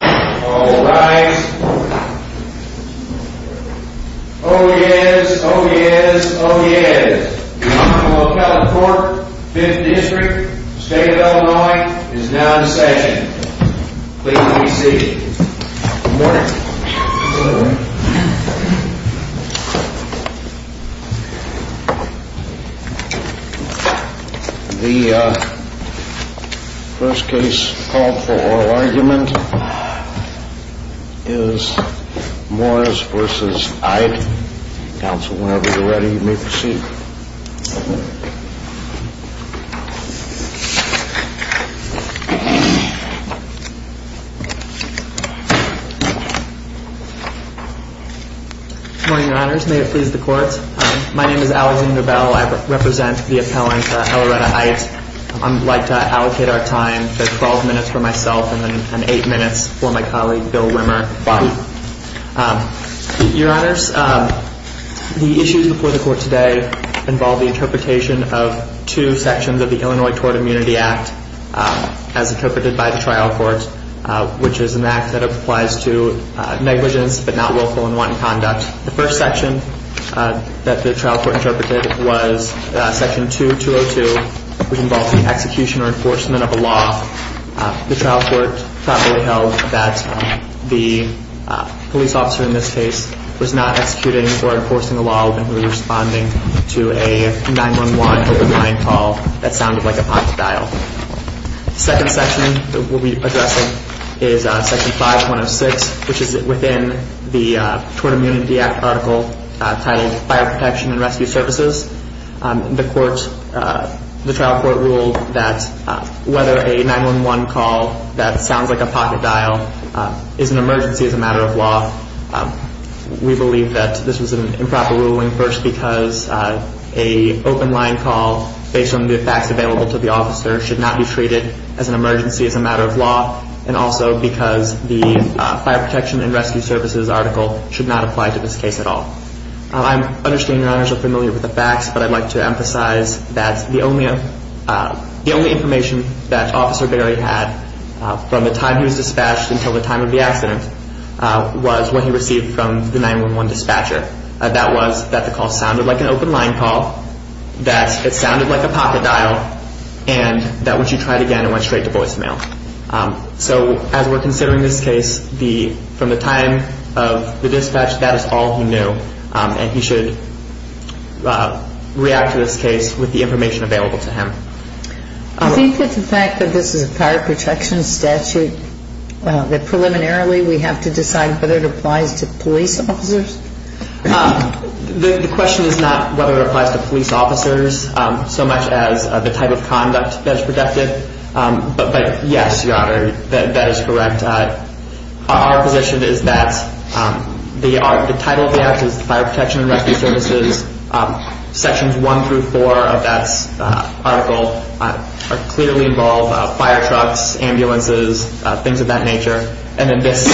All rise. Oh yes, oh yes, oh yes. The Honorable California Court, 5th District, State of Illinois, is now in session. Please be seated. Good morning. The first case called for oral argument is Morris v. Aydt. Counsel, whenever you're ready, you may proceed. Good morning, Your Honors. May it please the Court. My name is Alexander Bell. I represent the appellant, Eloretta Aydt. I'd like to allocate our time to 12 minutes for myself and then 8 minutes for my colleague, Bill Wimmer. Your Honors, the issues before the Court today involve the interpretation of two sections of the Illinois Tort Immunity Act as interpreted by the trial court, which is an act that applies to negligence but not willful and wanton conduct. The first section that the trial court interpreted was section 2202, which involved the execution or enforcement of a law. The trial court properly held that the police officer in this case was not executing or enforcing a law, but was responding to a 911 open line call that sounded like a potty dial. The second section that we'll be addressing is section 5106, which is within the Tort Immunity Act article titled Fire Protection and Rescue Services. The trial court ruled that whether a 911 call that sounds like a potty dial is an emergency as a matter of law. We believe that this was an improper ruling, first because an open line call based on the facts available to the officer should not be treated as an emergency as a matter of law, and also because the Fire Protection and Rescue Services article should not apply to this case at all. I understand Your Honors are familiar with the facts, but I'd like to emphasize that the only information that Officer Berry had from the time he was dispatched until the time of the accident was what he received from the 911 dispatcher. That was that the call sounded like an open line call, that it sounded like a potty dial, and that when she tried again, it went straight to voicemail. So as we're considering this case, from the time of the dispatch, that is all he knew, and he should react to this case with the information available to him. Do you think that the fact that this is a fire protection statute, that preliminarily we have to decide whether it applies to police officers? The question is not whether it applies to police officers so much as the type of conduct that is protected, but yes, Your Honor, that is correct. Our position is that the title of the article is Fire Protection and Rescue Services. Sections 1 through 4 of that article clearly involve fire trucks, ambulances, things of that nature. And then this,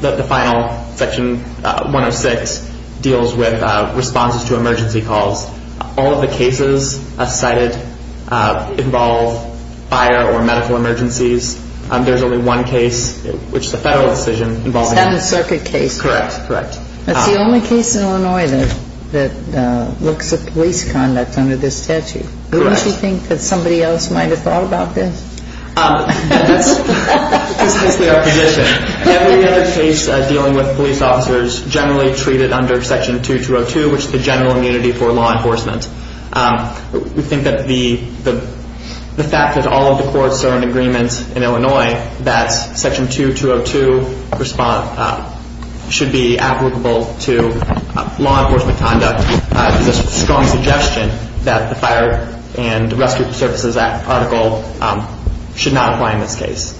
the final section, 106, deals with responses to emergency calls. All of the cases cited involve fire or medical emergencies. There's only one case, which is a federal decision. Seventh Circuit case. Correct, correct. That's the only case in Illinois that looks at police conduct under this statute. Correct. Don't you think that somebody else might have thought about this? That's precisely our position. And we have a case dealing with police officers generally treated under Section 2202, which is the general immunity for law enforcement. We think that the fact that all of the courts are in agreement in Illinois that Section 2202 should be applicable to law enforcement conduct is a strong suggestion that the Fire and Rescue Services article should not apply in this case.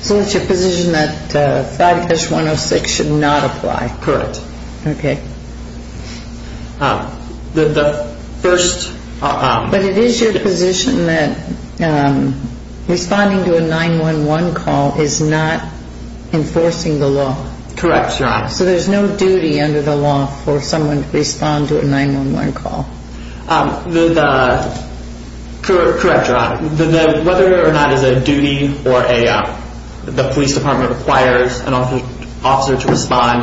So it's your position that 5-106 should not apply? Correct. Okay. But it is your position that responding to a 911 call is not enforcing the law? Correct, Your Honor. So there's no duty under the law for someone to respond to a 911 call? Correct, Your Honor. Whether or not it's a duty or the police department requires an officer to respond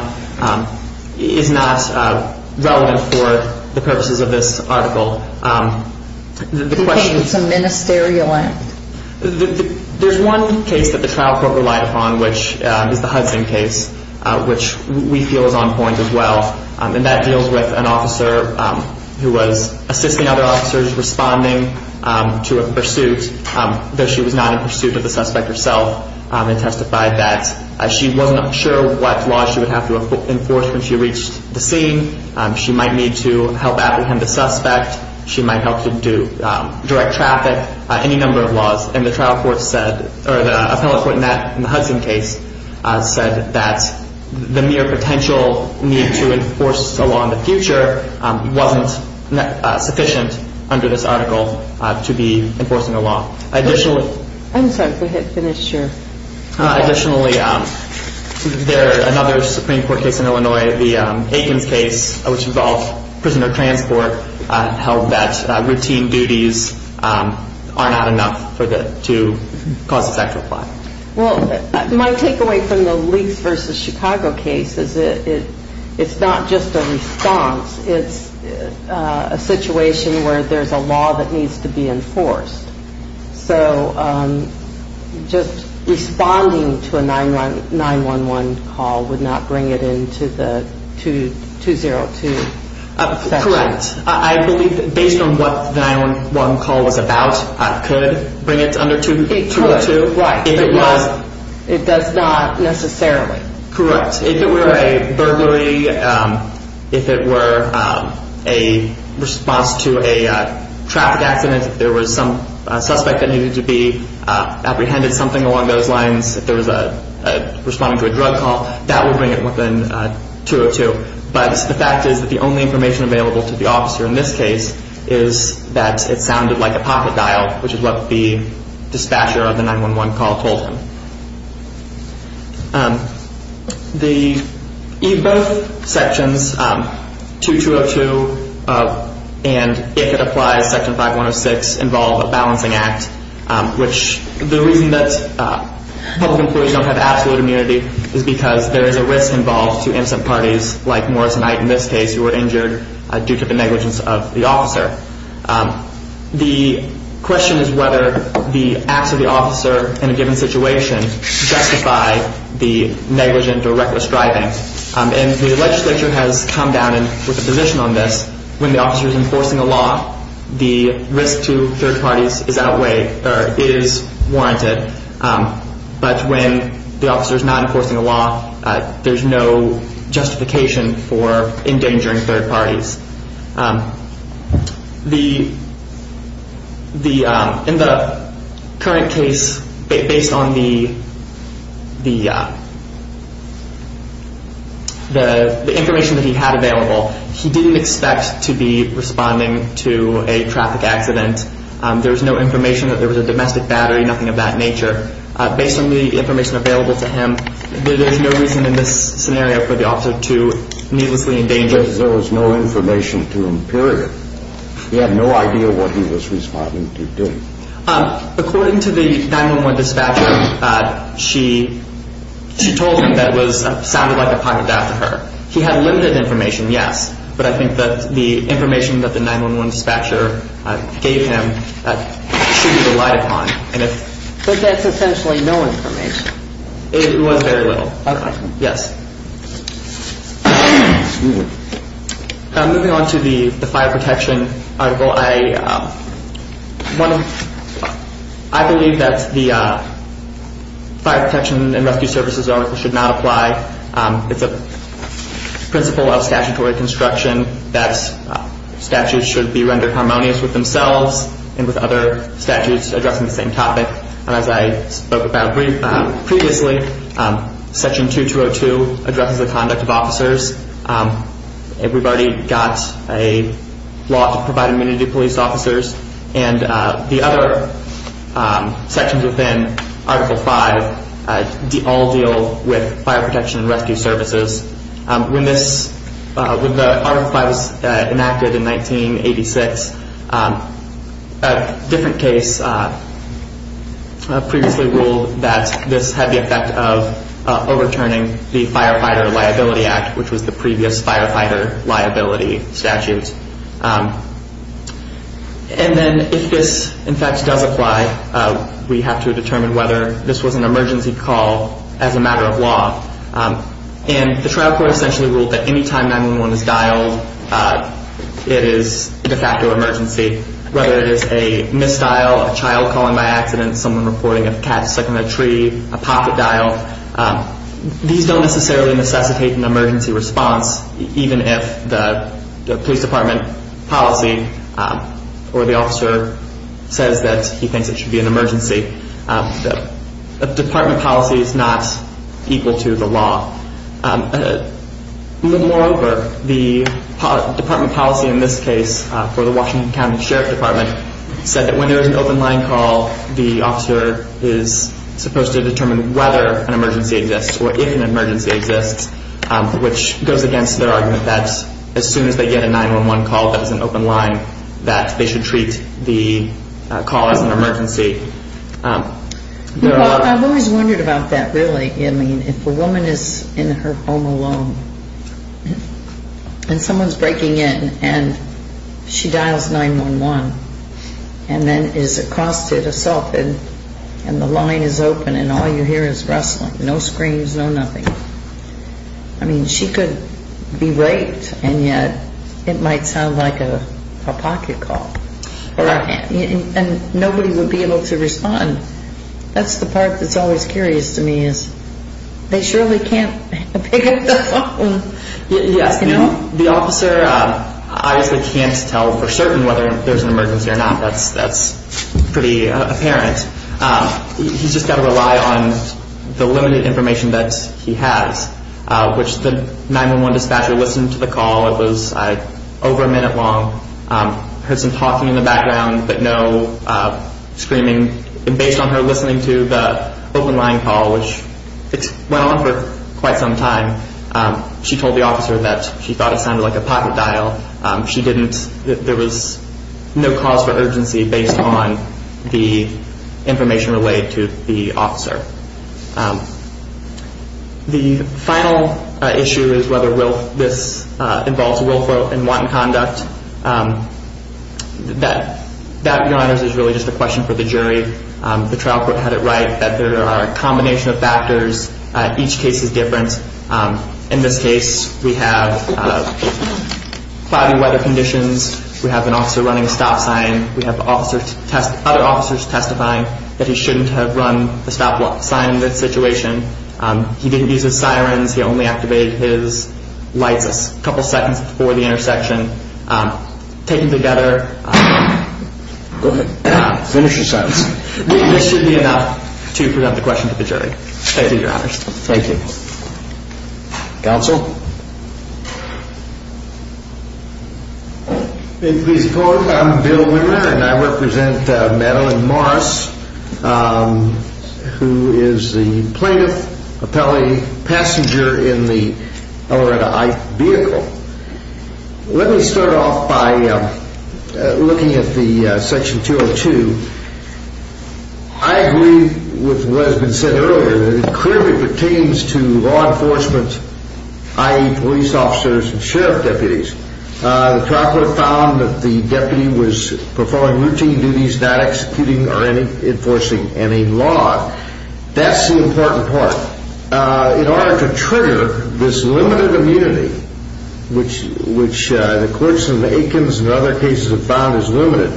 is not relevant for the purposes of this article. Okay, it's a ministerial act. There's one case that the trial court relied upon, which is the Hudson case, which we feel is on point as well. And that deals with an officer who was assisting other officers responding to a pursuit, though she was not in pursuit of the suspect herself. It testified that she wasn't sure what laws she would have to enforce when she reached the scene. She might need to help apprehend the suspect. She might have to do direct traffic, any number of laws. And the trial court said, or the appellate court in the Hudson case said that the mere potential need to enforce a law in the future wasn't sufficient under this article to be enforcing a law. I'm sorry, go ahead and finish your report. Well, my takeaway from the Leakes v. Chicago case is that it's not just a response. It's a situation where there's a law that needs to be enforced. So just responding to a 911 call would not bring it into the 202 section. Correct. I believe that based on what the 911 call was about, it could bring it under 202. It does not necessarily. Correct. If it were a burglary, if it were a response to a traffic accident, if there was some suspect that needed to be apprehended, something along those lines, if there was a responding to a drug call, that would bring it within 202. But the fact is that the only information available to the officer in this case is that it sounded like a pocket dial, which is what the dispatcher of the 911 call told him. The e-birth sections 2202 and, if it applies, section 5106 involve a balancing act, which the reason that public employees don't have absolute immunity is because there is a risk involved to innocent parties, like Morris and I in this case, who were injured due to the negligence of the officer. The question is whether the acts of the officer in a given situation justify the negligent or reckless driving. And the legislature has come down with a position on this. When the officer is enforcing a law, the risk to third parties is outweighed or is warranted. But when the officer is not enforcing a law, there's no justification for endangering third parties. In the current case, based on the information that he had available, he didn't expect to be responding to a traffic accident. There was no information that there was a domestic battery, nothing of that nature. Based on the information available to him, there's no reason in this scenario for the officer to needlessly endanger. Because there was no information to him, period. He had no idea what he was responding to do. According to the 9-1-1 dispatcher, she told him that it sounded like a pocket after her. He had limited information, yes, but I think that the information that the 9-1-1 dispatcher gave him should be relied upon. But that's essentially no information. It was very little. Okay. Yes. Moving on to the fire protection article, I believe that the fire protection and rescue services article should not apply. It's a principle of statutory construction that statutes should be rendered harmonious with themselves and with other statutes addressing the same topic. As I spoke about previously, section 2202 addresses the conduct of officers. We've already got a law to provide immunity to police officers. And the other sections within article 5 all deal with fire protection and rescue services. When the article 5 was enacted in 1986, a different case previously ruled that this had the effect of overturning the Firefighter Liability Act, which was the previous firefighter liability statute. And then if this, in fact, does apply, we have to determine whether this was an emergency call as a matter of law. And the trial court essentially ruled that any time 9-1-1 is dialed, it is de facto emergency, whether it is a misdial, a child calling by accident, someone reporting a cat stuck in a tree, a pocket dial. These don't necessarily necessitate an emergency response, even if the police department policy or the officer says that he thinks it should be an emergency. The department policy is not equal to the law. Moreover, the department policy in this case for the Washington County Sheriff Department said that when there is an open line call, the officer is supposed to determine whether an emergency exists or if an emergency exists, which goes against their argument that as soon as they get a 9-1-1 call that is an open line, that they should treat the call as an emergency. I've always wondered about that, really. I mean, if a woman is in her home alone and someone is breaking in and she dials 9-1-1 and then is accosted, assaulted, and the line is open and all you hear is rustling, no screams, no nothing. I mean, she could be raped and yet it might sound like a pocket call. Right. And nobody would be able to respond. That's the part that's always curious to me is they surely can't pick up the phone. Yes. You know? The officer obviously can't tell for certain whether there's an emergency or not. That's pretty apparent. He's just got to rely on the limited information that he has, which the 9-1-1 dispatcher listened to the call. It was over a minute long. Heard some talking in the background but no screaming. And based on her listening to the open line call, which went on for quite some time, she told the officer that she thought it sounded like a pocket dial. She didn't. There was no cause for urgency based on the information relayed to the officer. The final issue is whether this involves willful and wanton conduct. That, Your Honors, is really just a question for the jury. The trial court had it right that there are a combination of factors. Each case is different. In this case, we have cloudy weather conditions. We have an officer running a stop sign. We have other officers testifying that he shouldn't have run the stop sign in this situation. He didn't use his sirens. He only activated his lights a couple seconds before the intersection. Taken together, this should be enough to present the question to the jury. Thank you, Your Honors. Thank you. Counsel? May it please the Court, I'm Bill Wimmer and I represent Madeline Morris, who is the plaintiff, appellee, passenger in the L.A. Ike vehicle. Let me start off by looking at the Section 202. I agree with what has been said earlier. It clearly pertains to law enforcement, i.e., police officers and sheriff deputies. The trial court found that the deputy was performing routine duties, not executing or enforcing any law. That's the important part. In order to trigger this limited immunity, which the clerks in the Aikens and other cases have found is limited,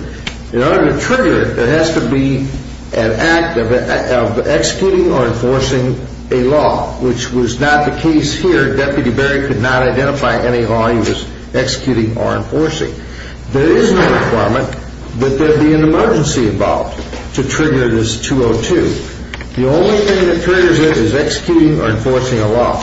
in order to trigger it, it has to be an act of executing or enforcing a law, which was not the case here. Deputy Berry could not identify any law he was executing or enforcing. There is no requirement that there be an emergency involved to trigger this 202. The only thing that triggers it is executing or enforcing a law.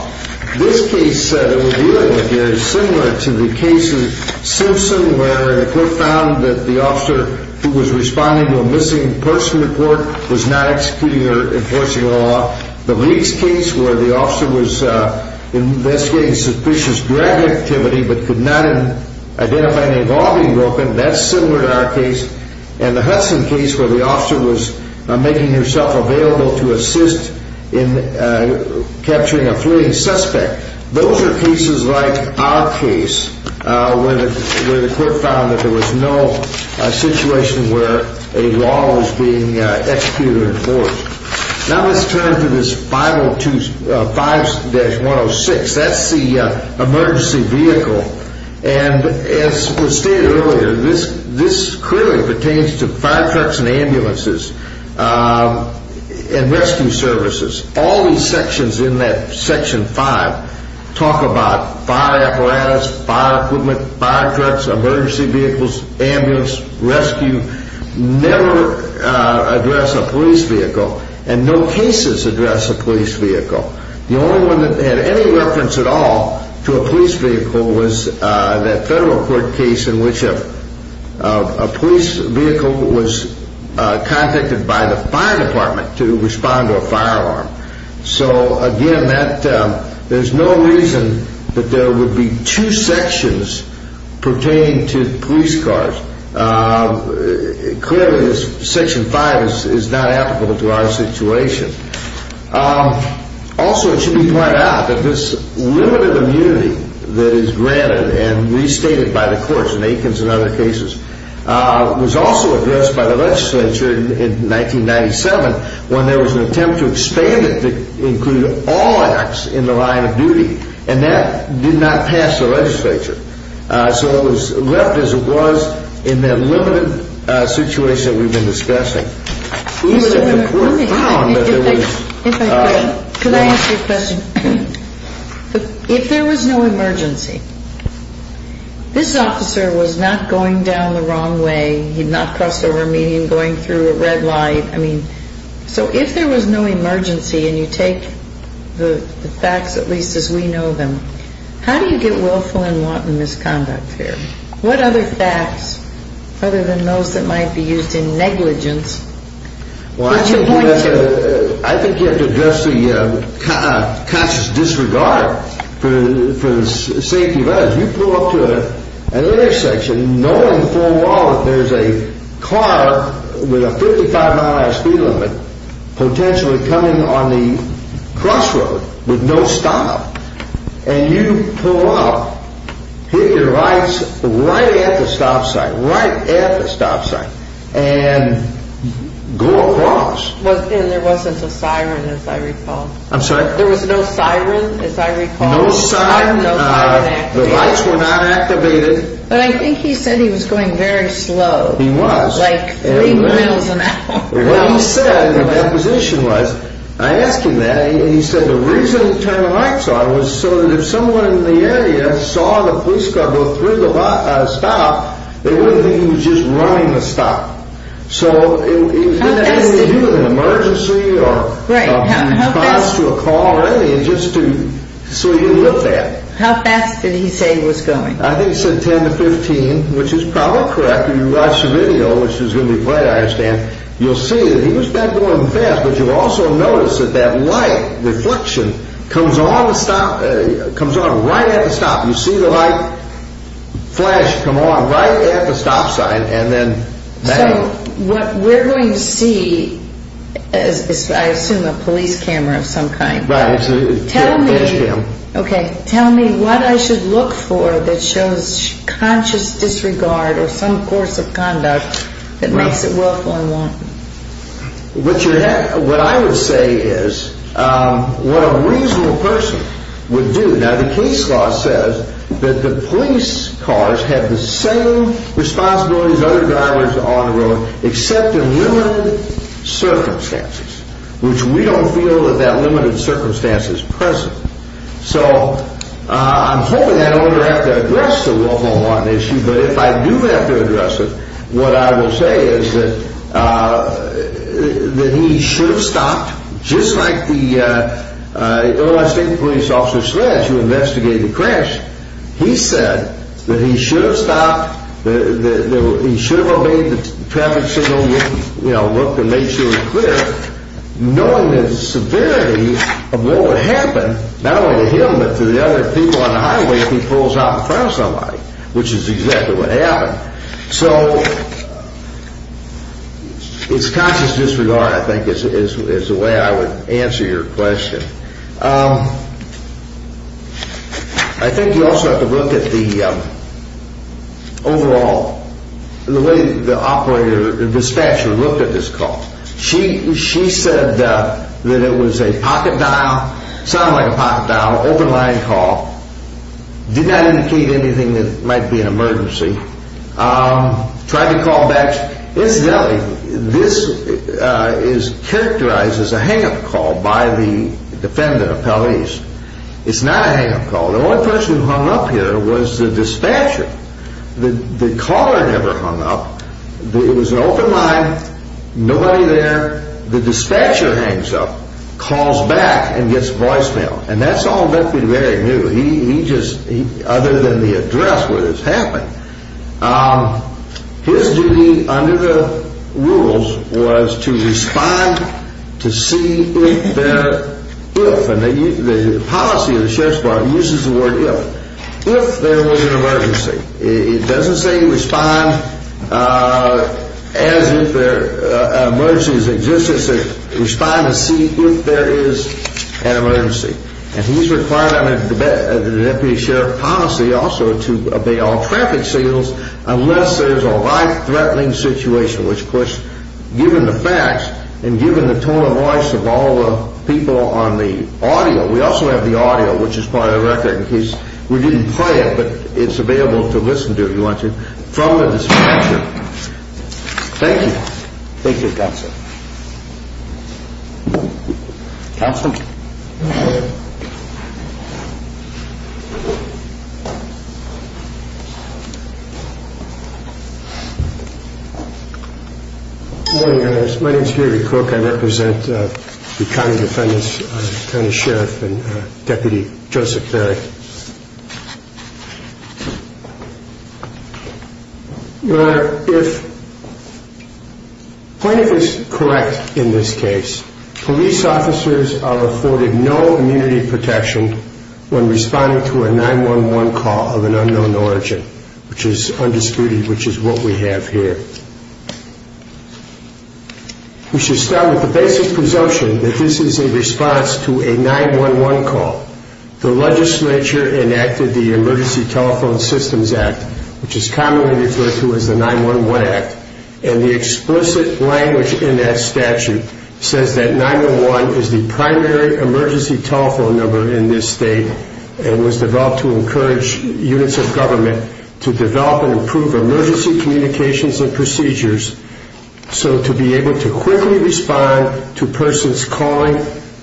This case that we're dealing with here is similar to the case of Simpson, where the court found that the officer who was responding to a missing person report was not executing or enforcing a law. The Leakes case, where the officer was investigating suspicious drug activity but could not identify any law being broken, that's similar to our case. And the Hudson case, where the officer was making herself available to assist in capturing a fleeing suspect, those are cases like our case, where the court found that there was no situation where a law was being executed or enforced. Now let's turn to this 502.5-106. That's the emergency vehicle. And as was stated earlier, this clearly pertains to fire trucks and ambulances and rescue services. All these sections in that Section 5 talk about fire apparatus, fire equipment, fire trucks, emergency vehicles, ambulance, rescue. Never address a police vehicle, and no cases address a police vehicle. The only one that had any reference at all to a police vehicle was that federal court case in which a police vehicle was contacted by the fire department to respond to a fire alarm. So again, there's no reason that there would be two sections pertaining to police cars. Clearly, Section 5 is not applicable to our situation. Also, it should be pointed out that this limited immunity that is granted and restated by the courts, in Aikens and other cases, was also addressed by the legislature in 1997 when there was an attempt to expand it to include all acts in the line of duty, and that did not pass the legislature. So it was left as it was in that limited situation that we've been discussing. If there was no emergency, this officer was not going down the wrong way. He had not crossed over a median going through a red light. I mean, so if there was no emergency, and you take the facts at least as we know them, how do you get willful and wanton misconduct here? What other facts, other than those that might be used in negligence, would you point to? I think you have to address the conscious disregard for the safety of others. You pull up to an intersection knowing full well that there's a car with a 55-mile-an-hour speed limit potentially coming on the crossroad with no stop, and you pull up, hit your lights right at the stop sign, right at the stop sign, and go across. And there wasn't a siren, as I recall. I'm sorry? There was no siren, as I recall. No siren. No siren activated. The lights were not activated. But I think he said he was going very slow. He was. Like three miles an hour. What he said in the deposition was, I asked him that, and he said the reason he turned the lights on was so that if someone in the area saw the police car go through the stop, they wouldn't think he was just running the stop. So it didn't have anything to do with an emergency or response to a call or anything. It just so he didn't look that. How fast did he say he was going? I think he said 10 to 15, which is probably correct. After you watch the video, which is going to be played, I understand, you'll see that he was not going fast, but you'll also notice that that light reflection comes on right at the stop. You see the light flash come on right at the stop sign. So what we're going to see is, I assume, a police camera of some kind. Right. It's a flash cam. Okay. Tell me what I should look for that shows conscious disregard or some course of conduct that makes it willful and wanton. What I would say is what a reasonable person would do. Now, the case law says that the police cars have the same responsibilities as other drivers on the road except in limited circumstances, which we don't feel that that limited circumstance is present. So I'm hoping I don't ever have to address the willful and wanton issue, but if I do have to address it, what I will say is that he should have stopped. Just like the Illinois State Police Officer Sledge who investigated the crash, he said that he should have stopped, he should have obeyed the traffic signal, looked and made sure it was clear, knowing the severity of what would happen not only to him but to the other people on the highway if he pulls out in front of somebody, which is exactly what happened. So it's conscious disregard, I think, is the way I would answer your question. I think you also have to look at the overall, the way the operator, the dispatcher looked at this call. She said that it was a pocket dial, sounded like a pocket dial, open line call, did not indicate anything that might be an emergency, tried to call back. Incidentally, this is characterized as a hang-up call by the defendant appellees. It's not a hang-up call. The only person who hung up here was the dispatcher. The caller never hung up. It was an open line, nobody there. The dispatcher hangs up, calls back and gets voicemail. And that's all very new, other than the address where this happened. His duty under the rules was to respond to see if there, if, and the policy of the Sheriff's Department uses the word if, if there was an emergency. It doesn't say respond as if an emergency exists. It says respond to see if there is an emergency. And he's required under the deputy sheriff policy also to obey all traffic signals unless there's a life-threatening situation, which, of course, given the facts and given the tone of voice of all the people on the audio, we also have the audio, which is part of the record in case we didn't play it, but it's available to listen to if you want to, from the dispatcher. Thank you. Thank you, Counsel. Counsel? Good morning, Your Honor. My name is Gary Cook. I represent the county defendants, the county sheriff and Deputy Joseph Ferry. Your Honor, if plaintiff is correct in this case, police officers are afforded no immunity protection when responding to a 911 call of an unknown origin, which is undisputed, which is what we have here. We should start with the basic presumption that this is a response to a 911 call. The legislature enacted the Emergency Telephone Systems Act, which is commonly referred to as the 911 Act, and the explicit language in that statute says that 911 is the primary emergency telephone number in this state and was developed to encourage units of government to develop and improve emergency communications and procedures so to be able to quickly respond to persons calling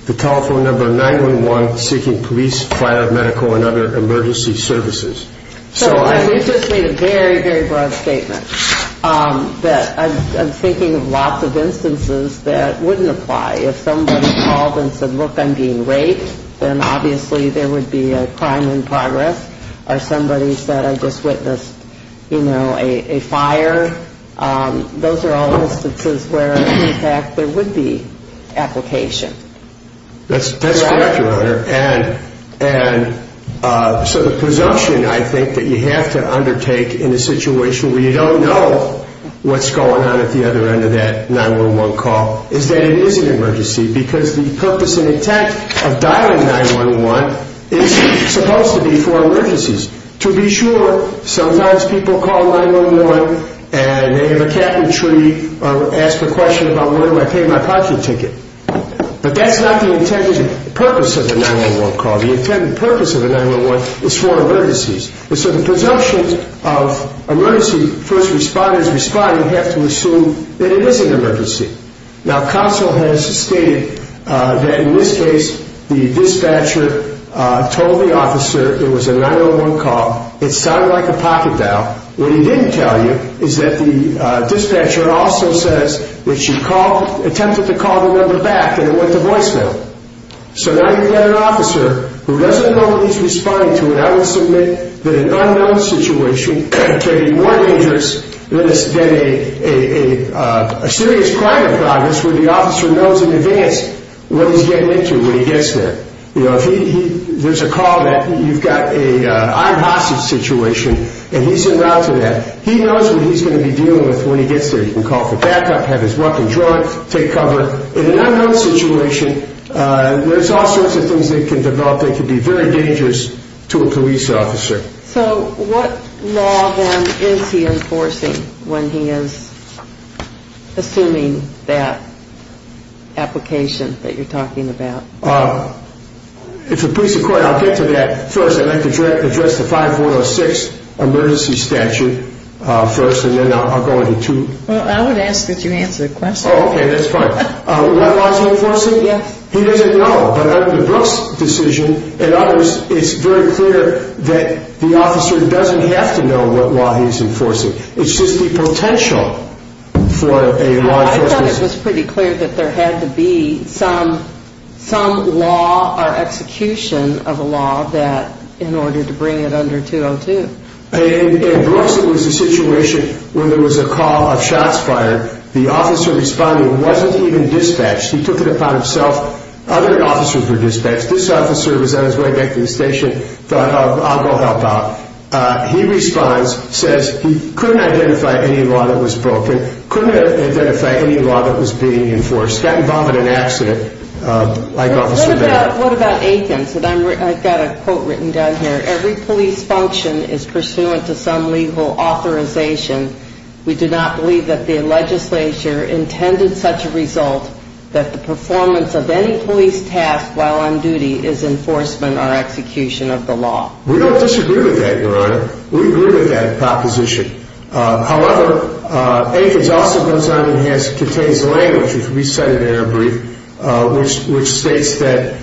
the telephone number 911 seeking police, fire, medical, and other emergency services. So I just made a very, very broad statement that I'm thinking of lots of instances that wouldn't apply. If somebody called and said, look, I'm being raped, then obviously there would be a crime in progress. Or somebody said I just witnessed, you know, a fire. Those are all instances where, in fact, there would be application. That's correct, Your Honor. And so the presumption, I think, that you have to undertake in a situation where you don't know what's going on at the other end of that 911 call is that it is an emergency because the purpose and intent of dialing 911 is supposed to be for emergencies. To be sure, sometimes people call 911 and they have a cabinetry or ask a question about where do I pay my parking ticket. But that's not the intended purpose of a 911 call. The intended purpose of a 911 is for emergencies. And so the presumption of emergency first responders responding have to assume that it is an emergency. Now, counsel has stated that in this case the dispatcher told the officer it was a 911 call, it sounded like a pocket dial. What he didn't tell you is that the dispatcher also says that she attempted to call the number back and it went to voicemail. So now you've got an officer who doesn't know what he's responding to and I would submit that an unknown situation could be more dangerous than a serious crime in progress where the officer knows in advance what he's getting into when he gets there. There's a call that you've got an armed hostage situation and he's en route to that. He knows what he's going to be dealing with when he gets there. He can call for backup, have his weapon drawn, take cover. In an unknown situation, there's all sorts of things that can develop that can be very dangerous to a police officer. So what law then is he enforcing when he is assuming that application that you're talking about? If the police are quiet, I'll get to that first. I'd like to address the 5106 emergency statute first and then I'll go into two. Well, I would ask that you answer the question. Oh, okay, that's fine. What law is he enforcing? He doesn't know. But under the Brooks decision, it's very clear that the officer doesn't have to know what law he's enforcing. It's just the potential for a law enforcement... I thought it was pretty clear that there had to be some law or execution of a law in order to bring it under 202. In Brooks, it was a situation where there was a call of shots fired. The officer responding wasn't even dispatched. He took it upon himself. Other officers were dispatched. This officer was on his way back to the station, thought, I'll go help out. He responds, says he couldn't identify any law that was broken, couldn't identify any law that was being enforced, got involved in an accident. What about Aikens? I've got a quote written down here. Every police function is pursuant to some legal authorization. We do not believe that the legislature intended such a result that the performance of any police task while on duty is enforcement or execution of the law. We don't disagree with that, Your Honor. We agree with that proposition. However, Aikens also goes on and contains language, which we cited in our brief, which states that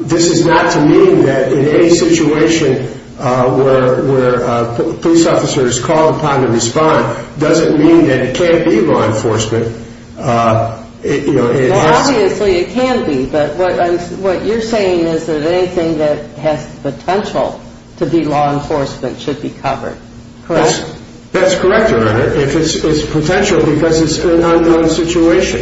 this is not to mean that in any situation where a police officer is called upon to respond, doesn't mean that it can't be law enforcement. Obviously, it can be. But what you're saying is that anything that has the potential to be law enforcement should be covered. Correct? That's correct, Your Honor, if it's potential because it's an unknown situation.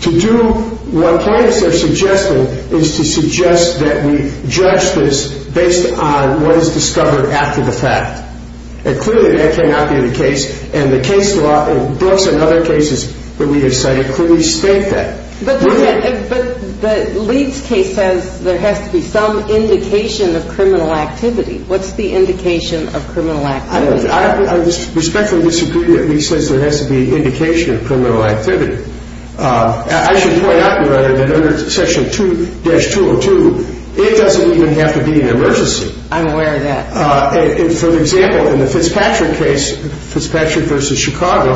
To do what plaintiffs are suggesting is to suggest that we judge this based on what is discovered after the fact. Clearly, that cannot be the case, and the case law in Brooks and other cases that we have cited clearly state that. But the Leeds case says there has to be some indication of criminal activity. What's the indication of criminal activity? I respectfully disagree that Leeds says there has to be indication of criminal activity. I should point out, Your Honor, that under Section 2-202, it doesn't even have to be an emergency. I'm aware of that. For example, in the Fitzpatrick case, Fitzpatrick v. Chicago,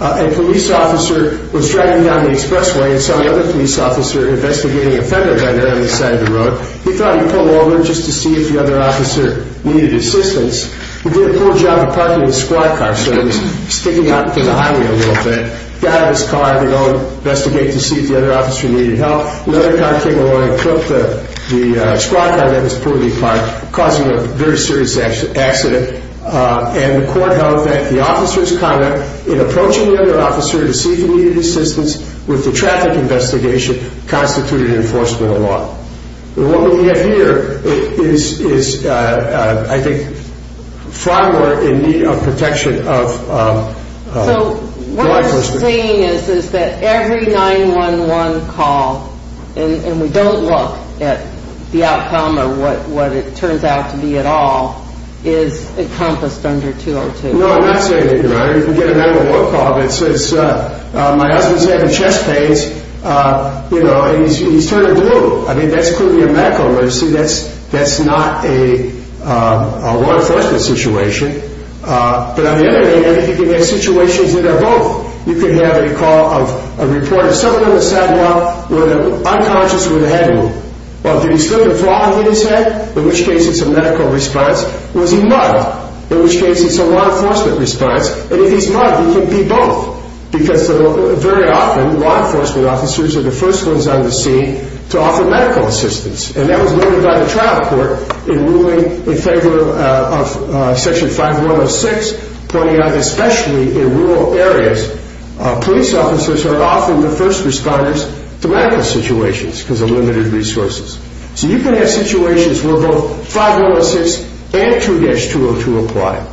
a police officer was driving down the expressway and saw another police officer investigating a federal vendor on the side of the road. He thought he'd pull over just to see if the other officer needed assistance. He did a poor job of parking his squad car, so he was sticking out to the highway a little bit. He got out of his car to go investigate to see if the other officer needed help. Another car came along and took the squad car that was pulling him apart, causing a very serious accident. And the court held that the officer's conduct in approaching the other officer to see if he needed assistance with the traffic investigation constituted enforcement of law. What we have here is, I think, far more in need of protection of the life of the officer. So what you're saying is that every 911 call, and we don't look at the outcome or what it turns out to be at all, is encompassed under 2-202? No, I'm not saying that, Your Honor. My husband's having chest pains, and he's turning blue. I mean, that's clearly a medical emergency. That's not a law enforcement situation. But on the other hand, you can have situations that are both. You can have a call of a reporter. Someone on the sidewalk was unconscious with a head wound. Well, did he still have a frog in his head? In which case, it's a medical response. Was he muddled? In which case, it's a law enforcement response. And if he's muddled, he can be both. Because very often, law enforcement officers are the first ones on the scene to offer medical assistance. And that was noted by the trial court in ruling in favor of Section 5106, pointing out especially in rural areas, police officers are often the first responders to medical situations because of limited resources. So you can have situations where both 5106 and 2-202 apply.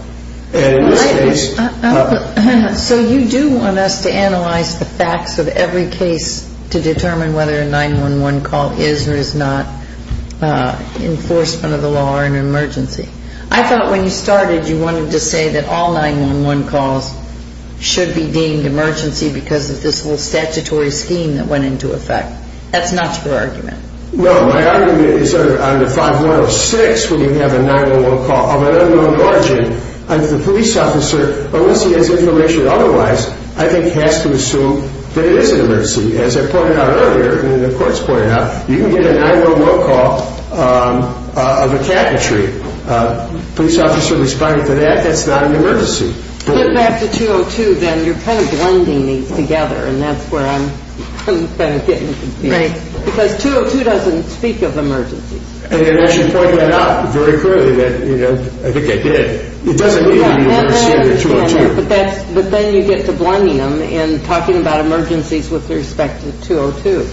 So you do want us to analyze the facts of every case to determine whether a 911 call is or is not enforcement of the law or an emergency. I thought when you started, you wanted to say that all 911 calls should be deemed emergency because of this whole statutory scheme that went into effect. That's not your argument. Well, my argument is that under 5106, when you have a 911 call of an unknown origin, the police officer, unless he has information otherwise, I think has to assume that it is an emergency. As I pointed out earlier, and the court's pointed out, you can get a 911 call of a cabinetry. A police officer responding to that, that's not an emergency. But back to 202, then, you're kind of blending these together. And that's where I'm kind of getting confused. Because 202 doesn't speak of emergencies. And I should point that out very clearly that, you know, I think I did. It doesn't need to be an emergency under 202. But then you get to blending them and talking about emergencies with respect to 202.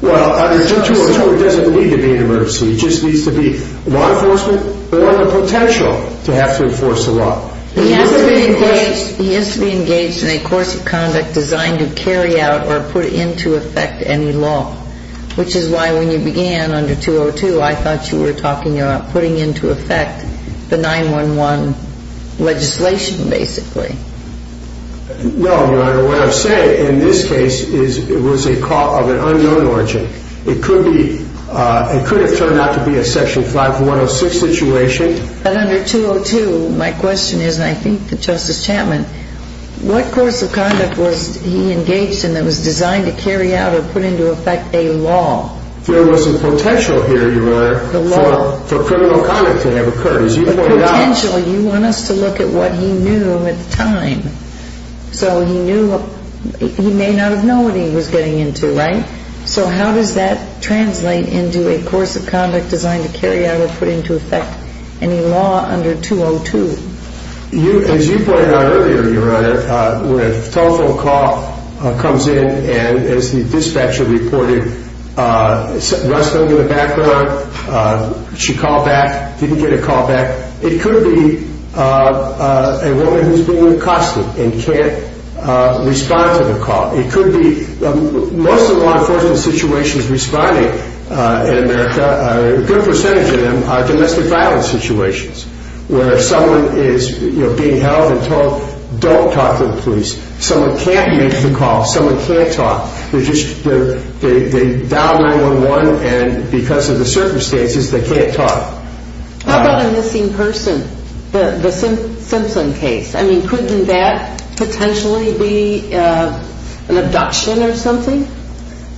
Well, under 202, it doesn't need to be an emergency. It just needs to be law enforcement or the potential to have to enforce the law. He has to be engaged in a course of conduct designed to carry out or put into effect any law, which is why when you began under 202, I thought you were talking about putting into effect the 911 legislation, basically. No, Your Honor. What I'm saying in this case is it was a call of an unknown origin. It could have turned out to be a Section 5106 situation. But under 202, my question is, and I think that Justice Chapman, what course of conduct was he engaged in that was designed to carry out or put into effect a law? There was a potential here, Your Honor, for criminal conduct to have occurred. As you pointed out. A potential. You want us to look at what he knew at the time. So he may not have known what he was getting into, right? So how does that translate into a course of conduct designed to carry out or put into effect any law under 202? As you pointed out earlier, Your Honor, when a telephone call comes in and, as the dispatcher reported, runs somebody in the background, she called back, didn't get a call back, it could be a woman who's being accosted and can't respond to the call. It could be most of the law enforcement situations responding in America, a good percentage of them are domestic violence situations, where someone is being held and told don't talk to the police. Someone can't make the call. Someone can't talk. They dial 911, and because of the circumstances, they can't talk. How about a missing person, the Simpson case? I mean, couldn't that potentially be an abduction or something?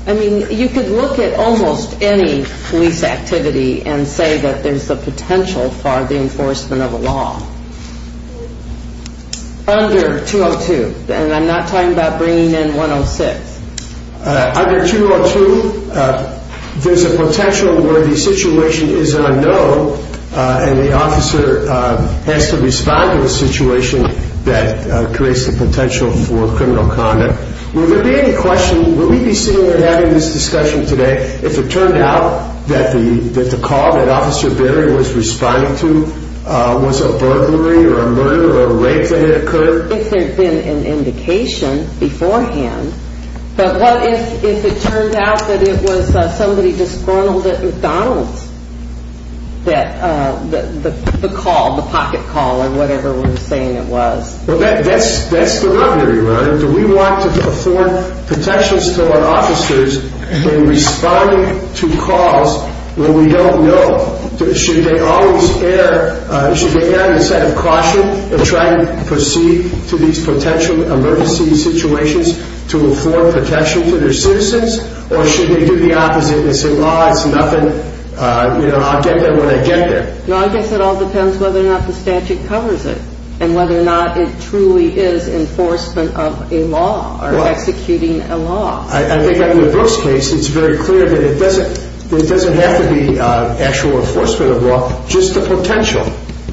I mean, you could look at almost any police activity and say that there's a potential for the enforcement of a law under 202, and I'm not talking about bringing in 106. Under 202, there's a potential where the situation is unknown and the officer has to respond to a situation that creates the potential for criminal conduct. Would there be any question, would we be sitting here having this discussion today if it turned out that the call that Officer Berry was responding to was a burglary or a murder or a rape that had occurred? If there had been an indication beforehand, but what if it turned out that it was somebody disgruntled at McDonald's, the call, the pocket call or whatever we're saying it was? Well, that's the rubbery, right? Do we want to afford protections to our officers when responding to calls when we don't know? Should they always err, should they err in a set of caution and try to proceed to these potential emergency situations to afford protection to their citizens, or should they do the opposite and say, well, it's nothing, you know, I'll get there when I get there? No, I guess it all depends whether or not the statute covers it and whether or not it truly is enforcement of a law or executing a law. I think under the Brooks case, it's very clear that it doesn't have to be actual enforcement of law, just the potential.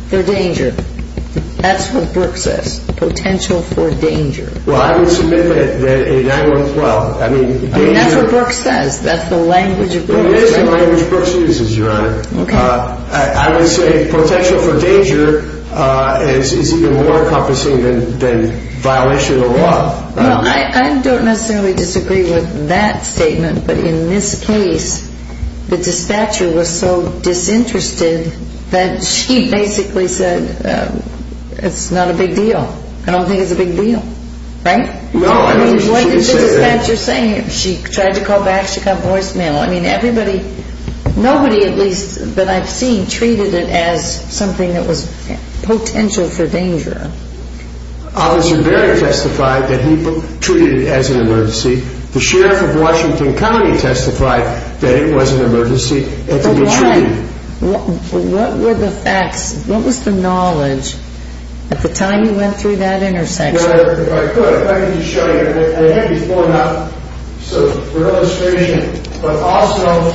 They're danger. That's what Brooks says. Potential for danger. Well, I would submit that a 9-1-12, I mean, danger. That's what Brooks says. That's the language of Brooks. It is the language Brooks uses, Your Honor. Okay. I would say potential for danger is even more encompassing than violation of law. No, I don't necessarily disagree with that statement, but in this case, the dispatcher was so disinterested that she basically said it's not a big deal. I don't think it's a big deal. Right? No, I don't think she said that. I mean, what did the dispatcher say? She tried to call back. She got voicemail. I mean, everybody, nobody at least that I've seen, treated it as something that was potential for danger. Officer Barrett testified that he treated it as an emergency. The sheriff of Washington County testified that it was an emergency and to be treated. But why? What were the facts? What was the knowledge at the time you went through that intersection? Well, if I could, if I could just show you. I had you form up so for illustration, but also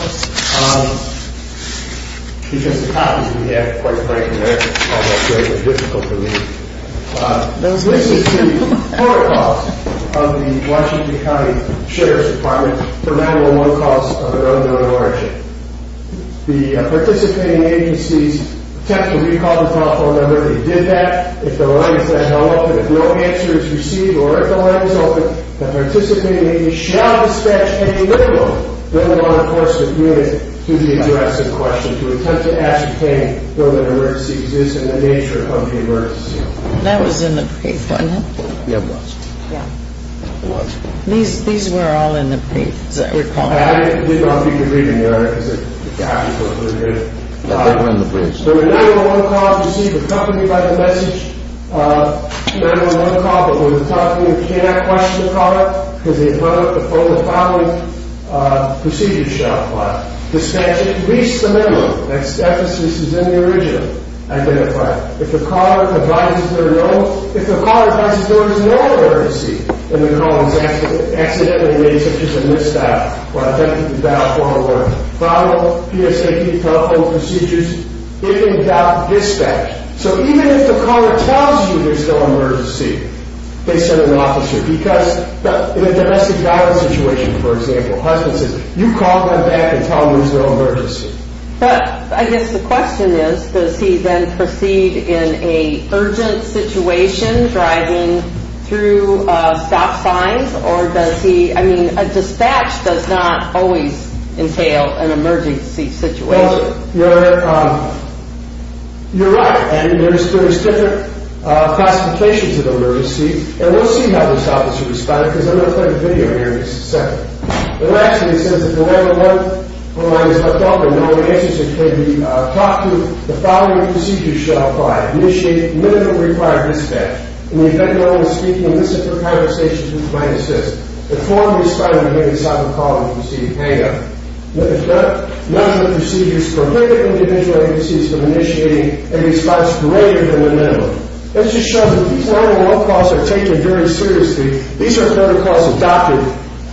because the copies we have, quite frankly, they're almost very difficult to read. This is the court call of the Washington County Sheriff's Department for 9-1-1 calls of an unknown origin. The participating agencies attempt to recall the telephone number. They did that. If the line is not open, if no answer is received or if the line is open, the participating agency shall dispatch any 9-1-1 enforcement unit to the address in question to attempt to ascertain whether an emergency exists and the nature of the emergency. That was in the brief, wasn't it? Yeah, it was. Yeah. It was. These were all in the brief, as I recall. I didn't know if you could read them, Your Honor, because the copies look pretty good. They were in the briefs. If a 9-1-1 call is received accompanied by the message of a 9-1-1 call, but we're talking, you cannot question the caller because the opponent, the following procedure shall apply. Dispatch at least the member whose deficit is in the original identified. If the caller advises there is no emergency and the caller is accidentally raised such as a missed dial or attempted to dial 9-1-1, follow PSAP telephone procedures if in doubt, dispatch. So even if the caller tells you there's no emergency, they send an officer because in a domestic violence situation, for example, husband says you call them back and tell them there's no emergency. But I guess the question is, does he then proceed in an urgent situation driving through stop signs or does he, I mean, a dispatch does not always entail an emergency situation. Well, Your Honor, you're right, and there's different classifications of emergency and we'll see how this officer responds because I'm going to play a video here in a second. It actually says if the 9-1-1 line is left open, no emergency can be talked to, the following procedure shall apply. Initiate minimum required dispatch. In the event that no one is speaking, listen for conversations with my assist. If formally starting to make a silent call, proceed hang up. None of the procedures prohibit individual agencies from initiating a response greater than the minimum. This just shows that these 9-1-1 calls are taken very seriously. These are 9-1-1 calls adopted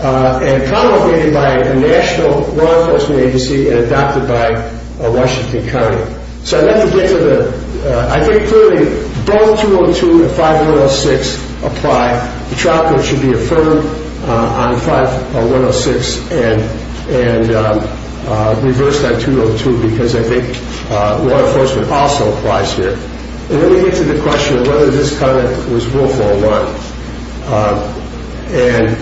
and promulgated by a national law enforcement agency and adopted by Washington County. So I'd like to get to the, I think clearly both 202 and 5106 apply. The trial code should be affirmed on 5106 and reversed on 202 because I think law enforcement also applies here. Let me get to the question of whether this comment was willful or not. And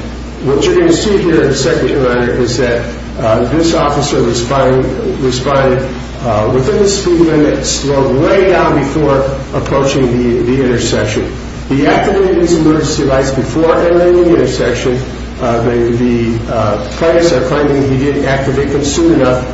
what you're going to see here in a second, Your Honor, is that this officer responded within the speed limit, slowed way down before approaching the intersection. He activated his emergency lights before entering the intersection. The plaintiffs are claiming he didn't activate them soon enough.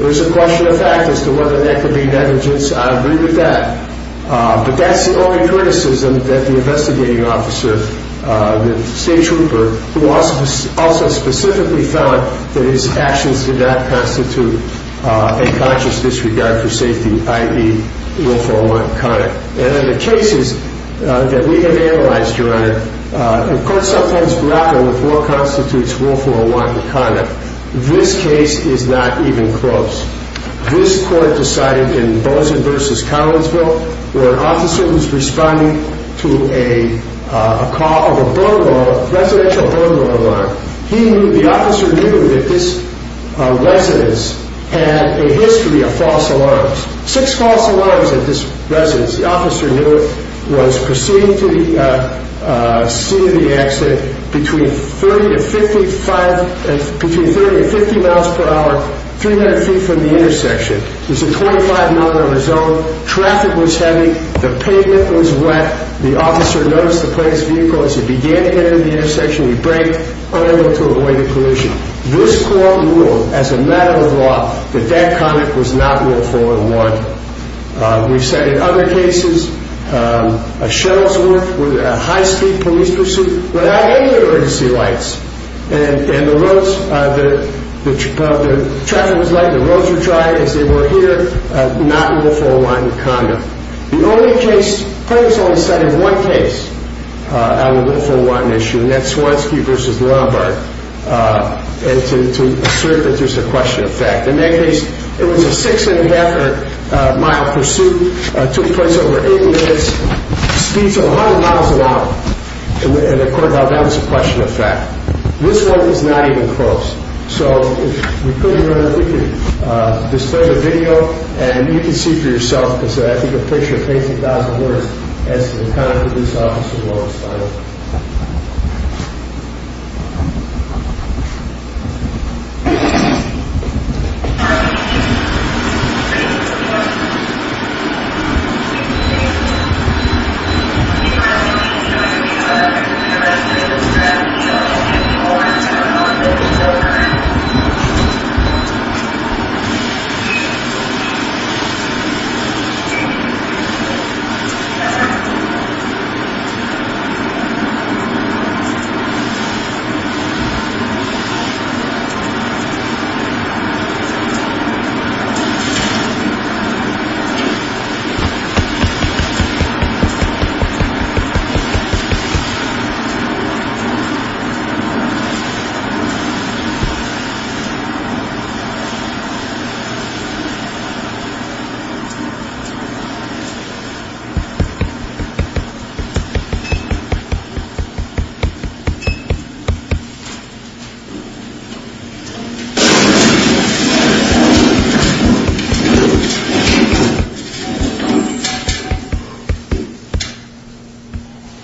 It was a question of fact as to whether that could be negligence. I agree with that. But that's the only criticism that the investigating officer, the state trooper, who also specifically found that his actions did not constitute a conscious disregard for safety, i.e., willful or wanton conduct. And in the cases that we have analyzed, Your Honor, the courts sometimes grapple with what constitutes willful or wanton conduct. This case is not even close. This court decided in Bozin v. Collinsville, where an officer was responding to a call of a residential burglar alarm. The officer knew that this residence had a history of false alarms. Six false alarms at this residence. The officer was proceeding to the scene of the accident between 30 and 50 miles per hour, 300 feet from the intersection. It was a 25-mile-an-hour zone. Traffic was heavy. The pavement was wet. The officer noticed the plaintiff's vehicle. As he began to enter the intersection, he braked, unable to avoid the collision. This court ruled, as a matter of law, that that conduct was not willful or wanton. We've said in other cases a shuttle's work with a high-speed police pursuit without any of the emergency lights. The traffic was light. The roads were dry, as they were here. Not willful or wanton conduct. The plaintiff's only cited one case on a willful or wanton issue, and that's Swanski v. Lombard, to assert that there's a question of fact. In that case, it was a six-and-a-half-mile pursuit. It took place over eight minutes, speeds of 100 miles an hour. And the court ruled that was a question of fact. This one is not even close. So if we could, if we could display the video, and you can see for yourself, because I think a picture pays a thousand words as to the conduct of this officer in the lowest final.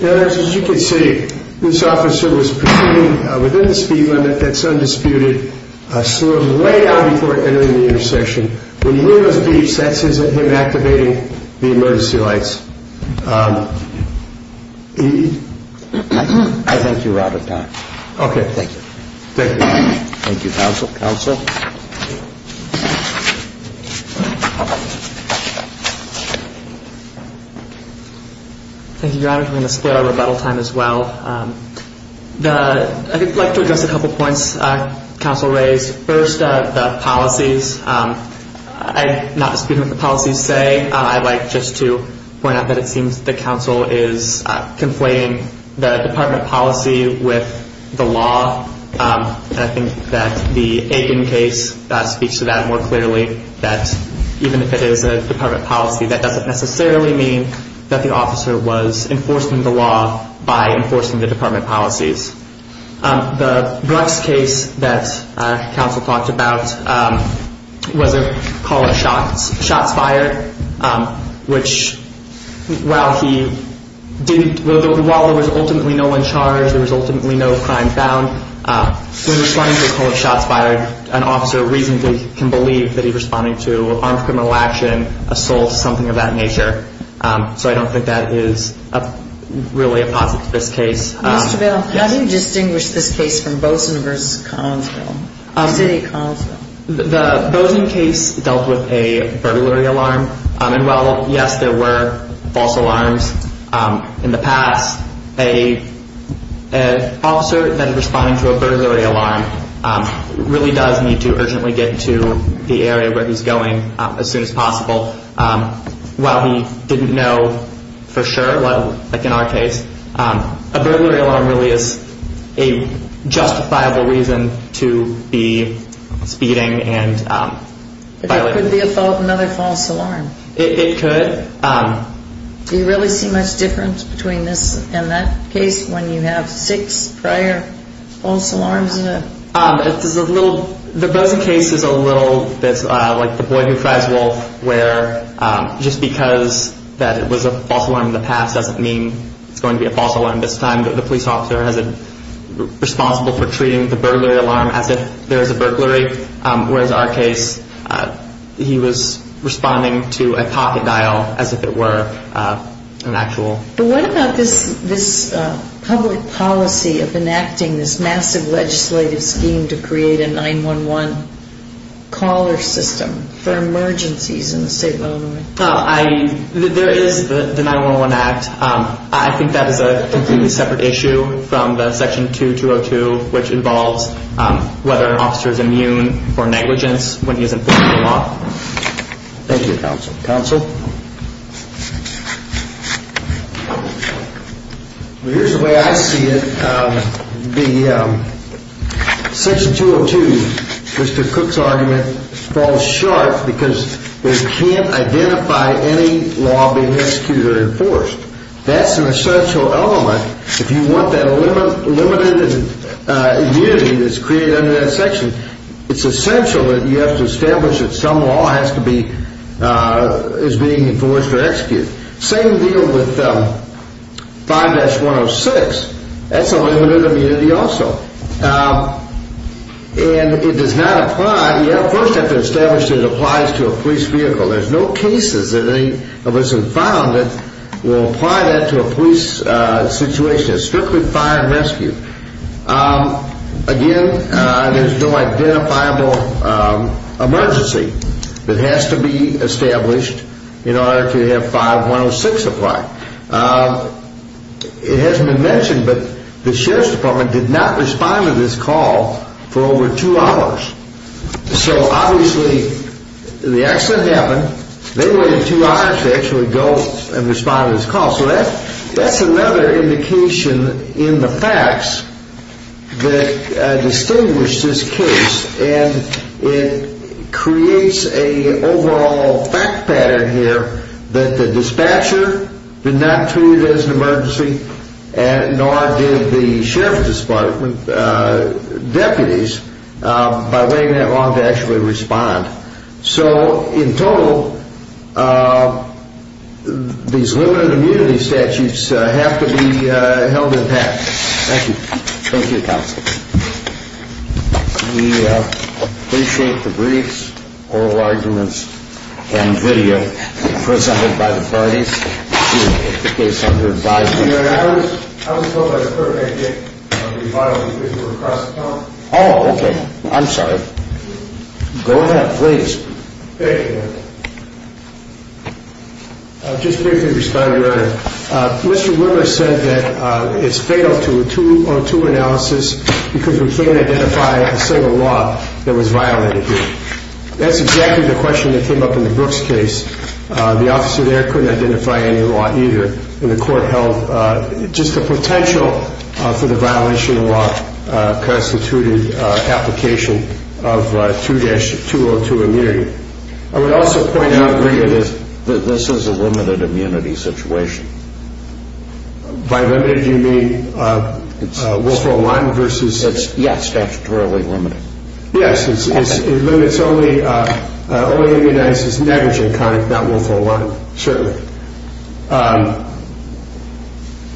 This is an emergency. This is an emergency. All units, come on in. This is an emergency. This is an emergency. This is an emergency. This officer was pursuing within the speed limit that's undisputed, slurred way out before entering the intersection. When he heard those beeps, that's him activating the emergency lights. I thank you, Robert. Okay. Thank you. Thank you. Thank you, counsel. Counsel. Thank you. Thank you, Your Honor. I'm going to spare our rebuttal time as well. I'd like to address a couple points counsel raised. First, the policies. I'm not disputing what the policies say. I'd like just to point out that it seems the counsel is conflating the department policy with the law. I think that the Aiken case speaks to that more clearly, that even if it is a department policy, that doesn't necessarily mean that the officer was enforcing the law by enforcing the department policies. The Brooks case that counsel talked about was called a shots fired, which while there was ultimately no one charged, there was ultimately no crime found, when responding to a call of shots fired, an officer reasonably can believe that he's responding to armed criminal action, assault, something of that nature. So I don't think that is really a positive to this case. Mr. Vail, how do you distinguish this case from Boson versus Collinsville? Is it a Collinsville? The Boson case dealt with a burglary alarm. And while, yes, there were false alarms in the past, an officer that is responding to a burglary alarm really does need to urgently get to the area where he's going as soon as possible. While he didn't know for sure, like in our case, a burglary alarm really is a justifiable reason to be speeding and violating. But there could be another false alarm. It could. Do you really see much difference between this and that case when you have six prior false alarms? The Boson case is a little bit like the boy who cries wolf, where just because it was a false alarm in the past doesn't mean it's going to be a false alarm this time. The police officer is responsible for treating the burglary alarm as if there is a burglary. Whereas in our case, he was responding to a pocket dial as if it were an actual. But what about this public policy of enacting this massive legislative scheme to create a 9-1-1 caller system for emergencies in the state of Illinois? There is the 9-1-1 Act. I think that is a completely separate issue from the Section 2202, which involves whether an officer is immune for negligence when he is enforcing the law. Thank you, Counsel. Counsel? Here's the way I see it. Section 202, Mr. Cook's argument, falls short because it can't identify any law being executed or enforced. That's an essential element. If you want that limited immunity that's created under that section, it's essential that you have to establish that some law is being enforced or executed. Same deal with 5-106. That's a limited immunity also. And it does not apply. You first have to establish that it applies to a police vehicle. There's no cases that any of us have found that will apply that to a police situation. It's strictly fire and rescue. Again, there's no identifiable emergency that has to be established in order to have 5-106 apply. It hasn't been mentioned, but the Sheriff's Department did not respond to this call for over two hours. So, obviously, the accident happened. They waited two hours to actually go and respond to this call. So that's another indication in the facts that distinguish this case. And it creates an overall fact pattern here that the dispatcher did not treat it as an emergency, nor did the Sheriff's Department deputies, by waiting that long to actually respond. So, in total, these limited immunity statutes have to be held in tact. Thank you. Thank you, Counsel. We appreciate the briefs, oral arguments, and video presented by the parties. This is the case under advisory. I was told by the clerk I'd get reviled because you were crossing the line. Oh, okay. I'm sorry. Go ahead, please. Thank you. I'll just briefly respond, Your Honor. Mr. Wimmer said that it's fatal to a two-on-two analysis because we can't identify a single law that was violated here. That's exactly the question that came up in the Brooks case. The officer there couldn't identify any law either, and the court held just the potential for the violation of law constituted application of 2-202 immunity. I would also point out briefly that this is a limited immunity situation. By limited, you mean Wolf-O-Lan versus such? Yes, statutorily limited. Yes. It limits only immunizes negligent conduct, not Wolf-O-Lan, certainly.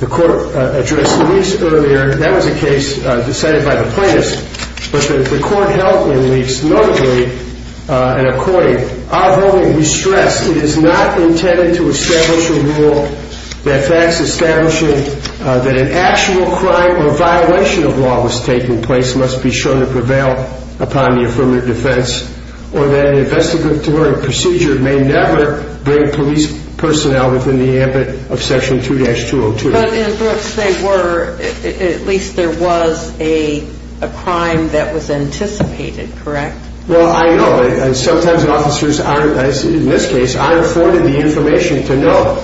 The court addressed the briefs earlier. That was a case decided by the plaintiffs. But the court held in the briefs notably an according. Although we stress it is not intended to establish a rule that facts establishing that an actual crime or violation of law was taking place must be shown to prevail upon the affirmative defense or that an investigatory procedure may never bring police personnel within the ambit of Section 2-202. But in the Brooks they were, at least there was a crime that was anticipated, correct? Well, I know. Sometimes officers aren't, as in this case, aren't afforded the information to know.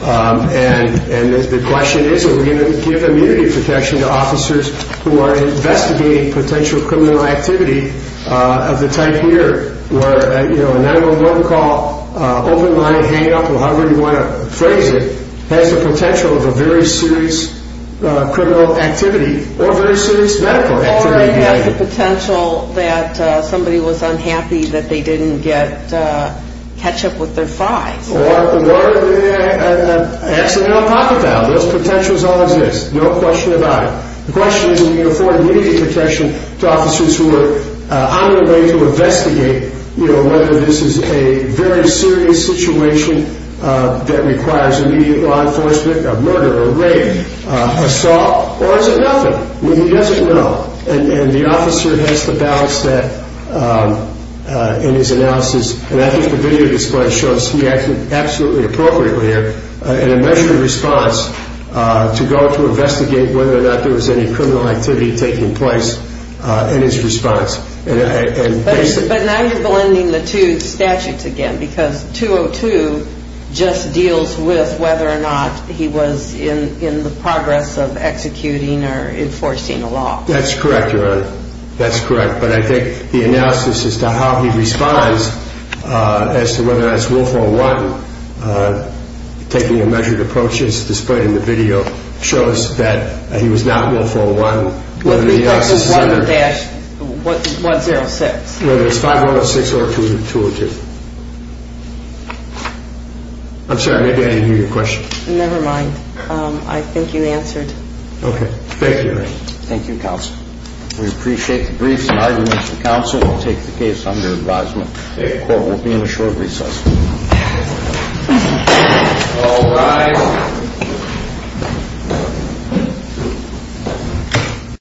And the question is are we going to give immunity protection to officers who are investigating potential criminal activity of the type here where a 911 call, open line, hang up, however you want to phrase it, has the potential of a very serious criminal activity or very serious medical activity. Or it has the potential that somebody was unhappy that they didn't get ketchup with their fries. Or the water in an accidental pocket valve. Those potentials all exist. No question about it. The question is are we going to afford immunity protection to officers who are on their way to investigate whether this is a very serious situation that requires immediate law enforcement, a murder, a rape, assault, or is it nothing? Well, he doesn't know. And the officer has to balance that in his analysis. And I think the video display shows he acted absolutely appropriately in a measured response to go to investigate whether or not there was any criminal activity taking place in his response. But now you're blending the two statutes again because 202 just deals with whether or not he was in the progress of executing or enforcing a law. That's correct, Your Honor. That's correct. But I think the analysis as to how he responds as to whether or not it's willful or not, taking a measured approach as displayed in the video, shows that he was not willful or not. This is 11-106. Whether it's 5106 or 202. I'm sorry. Maybe I didn't hear your question. Never mind. I think you answered. Okay. Thank you, Your Honor. Thank you, Counsel. We appreciate the briefs and arguments from counsel. We'll take the case under advisement. The court will be in a short recess. All rise.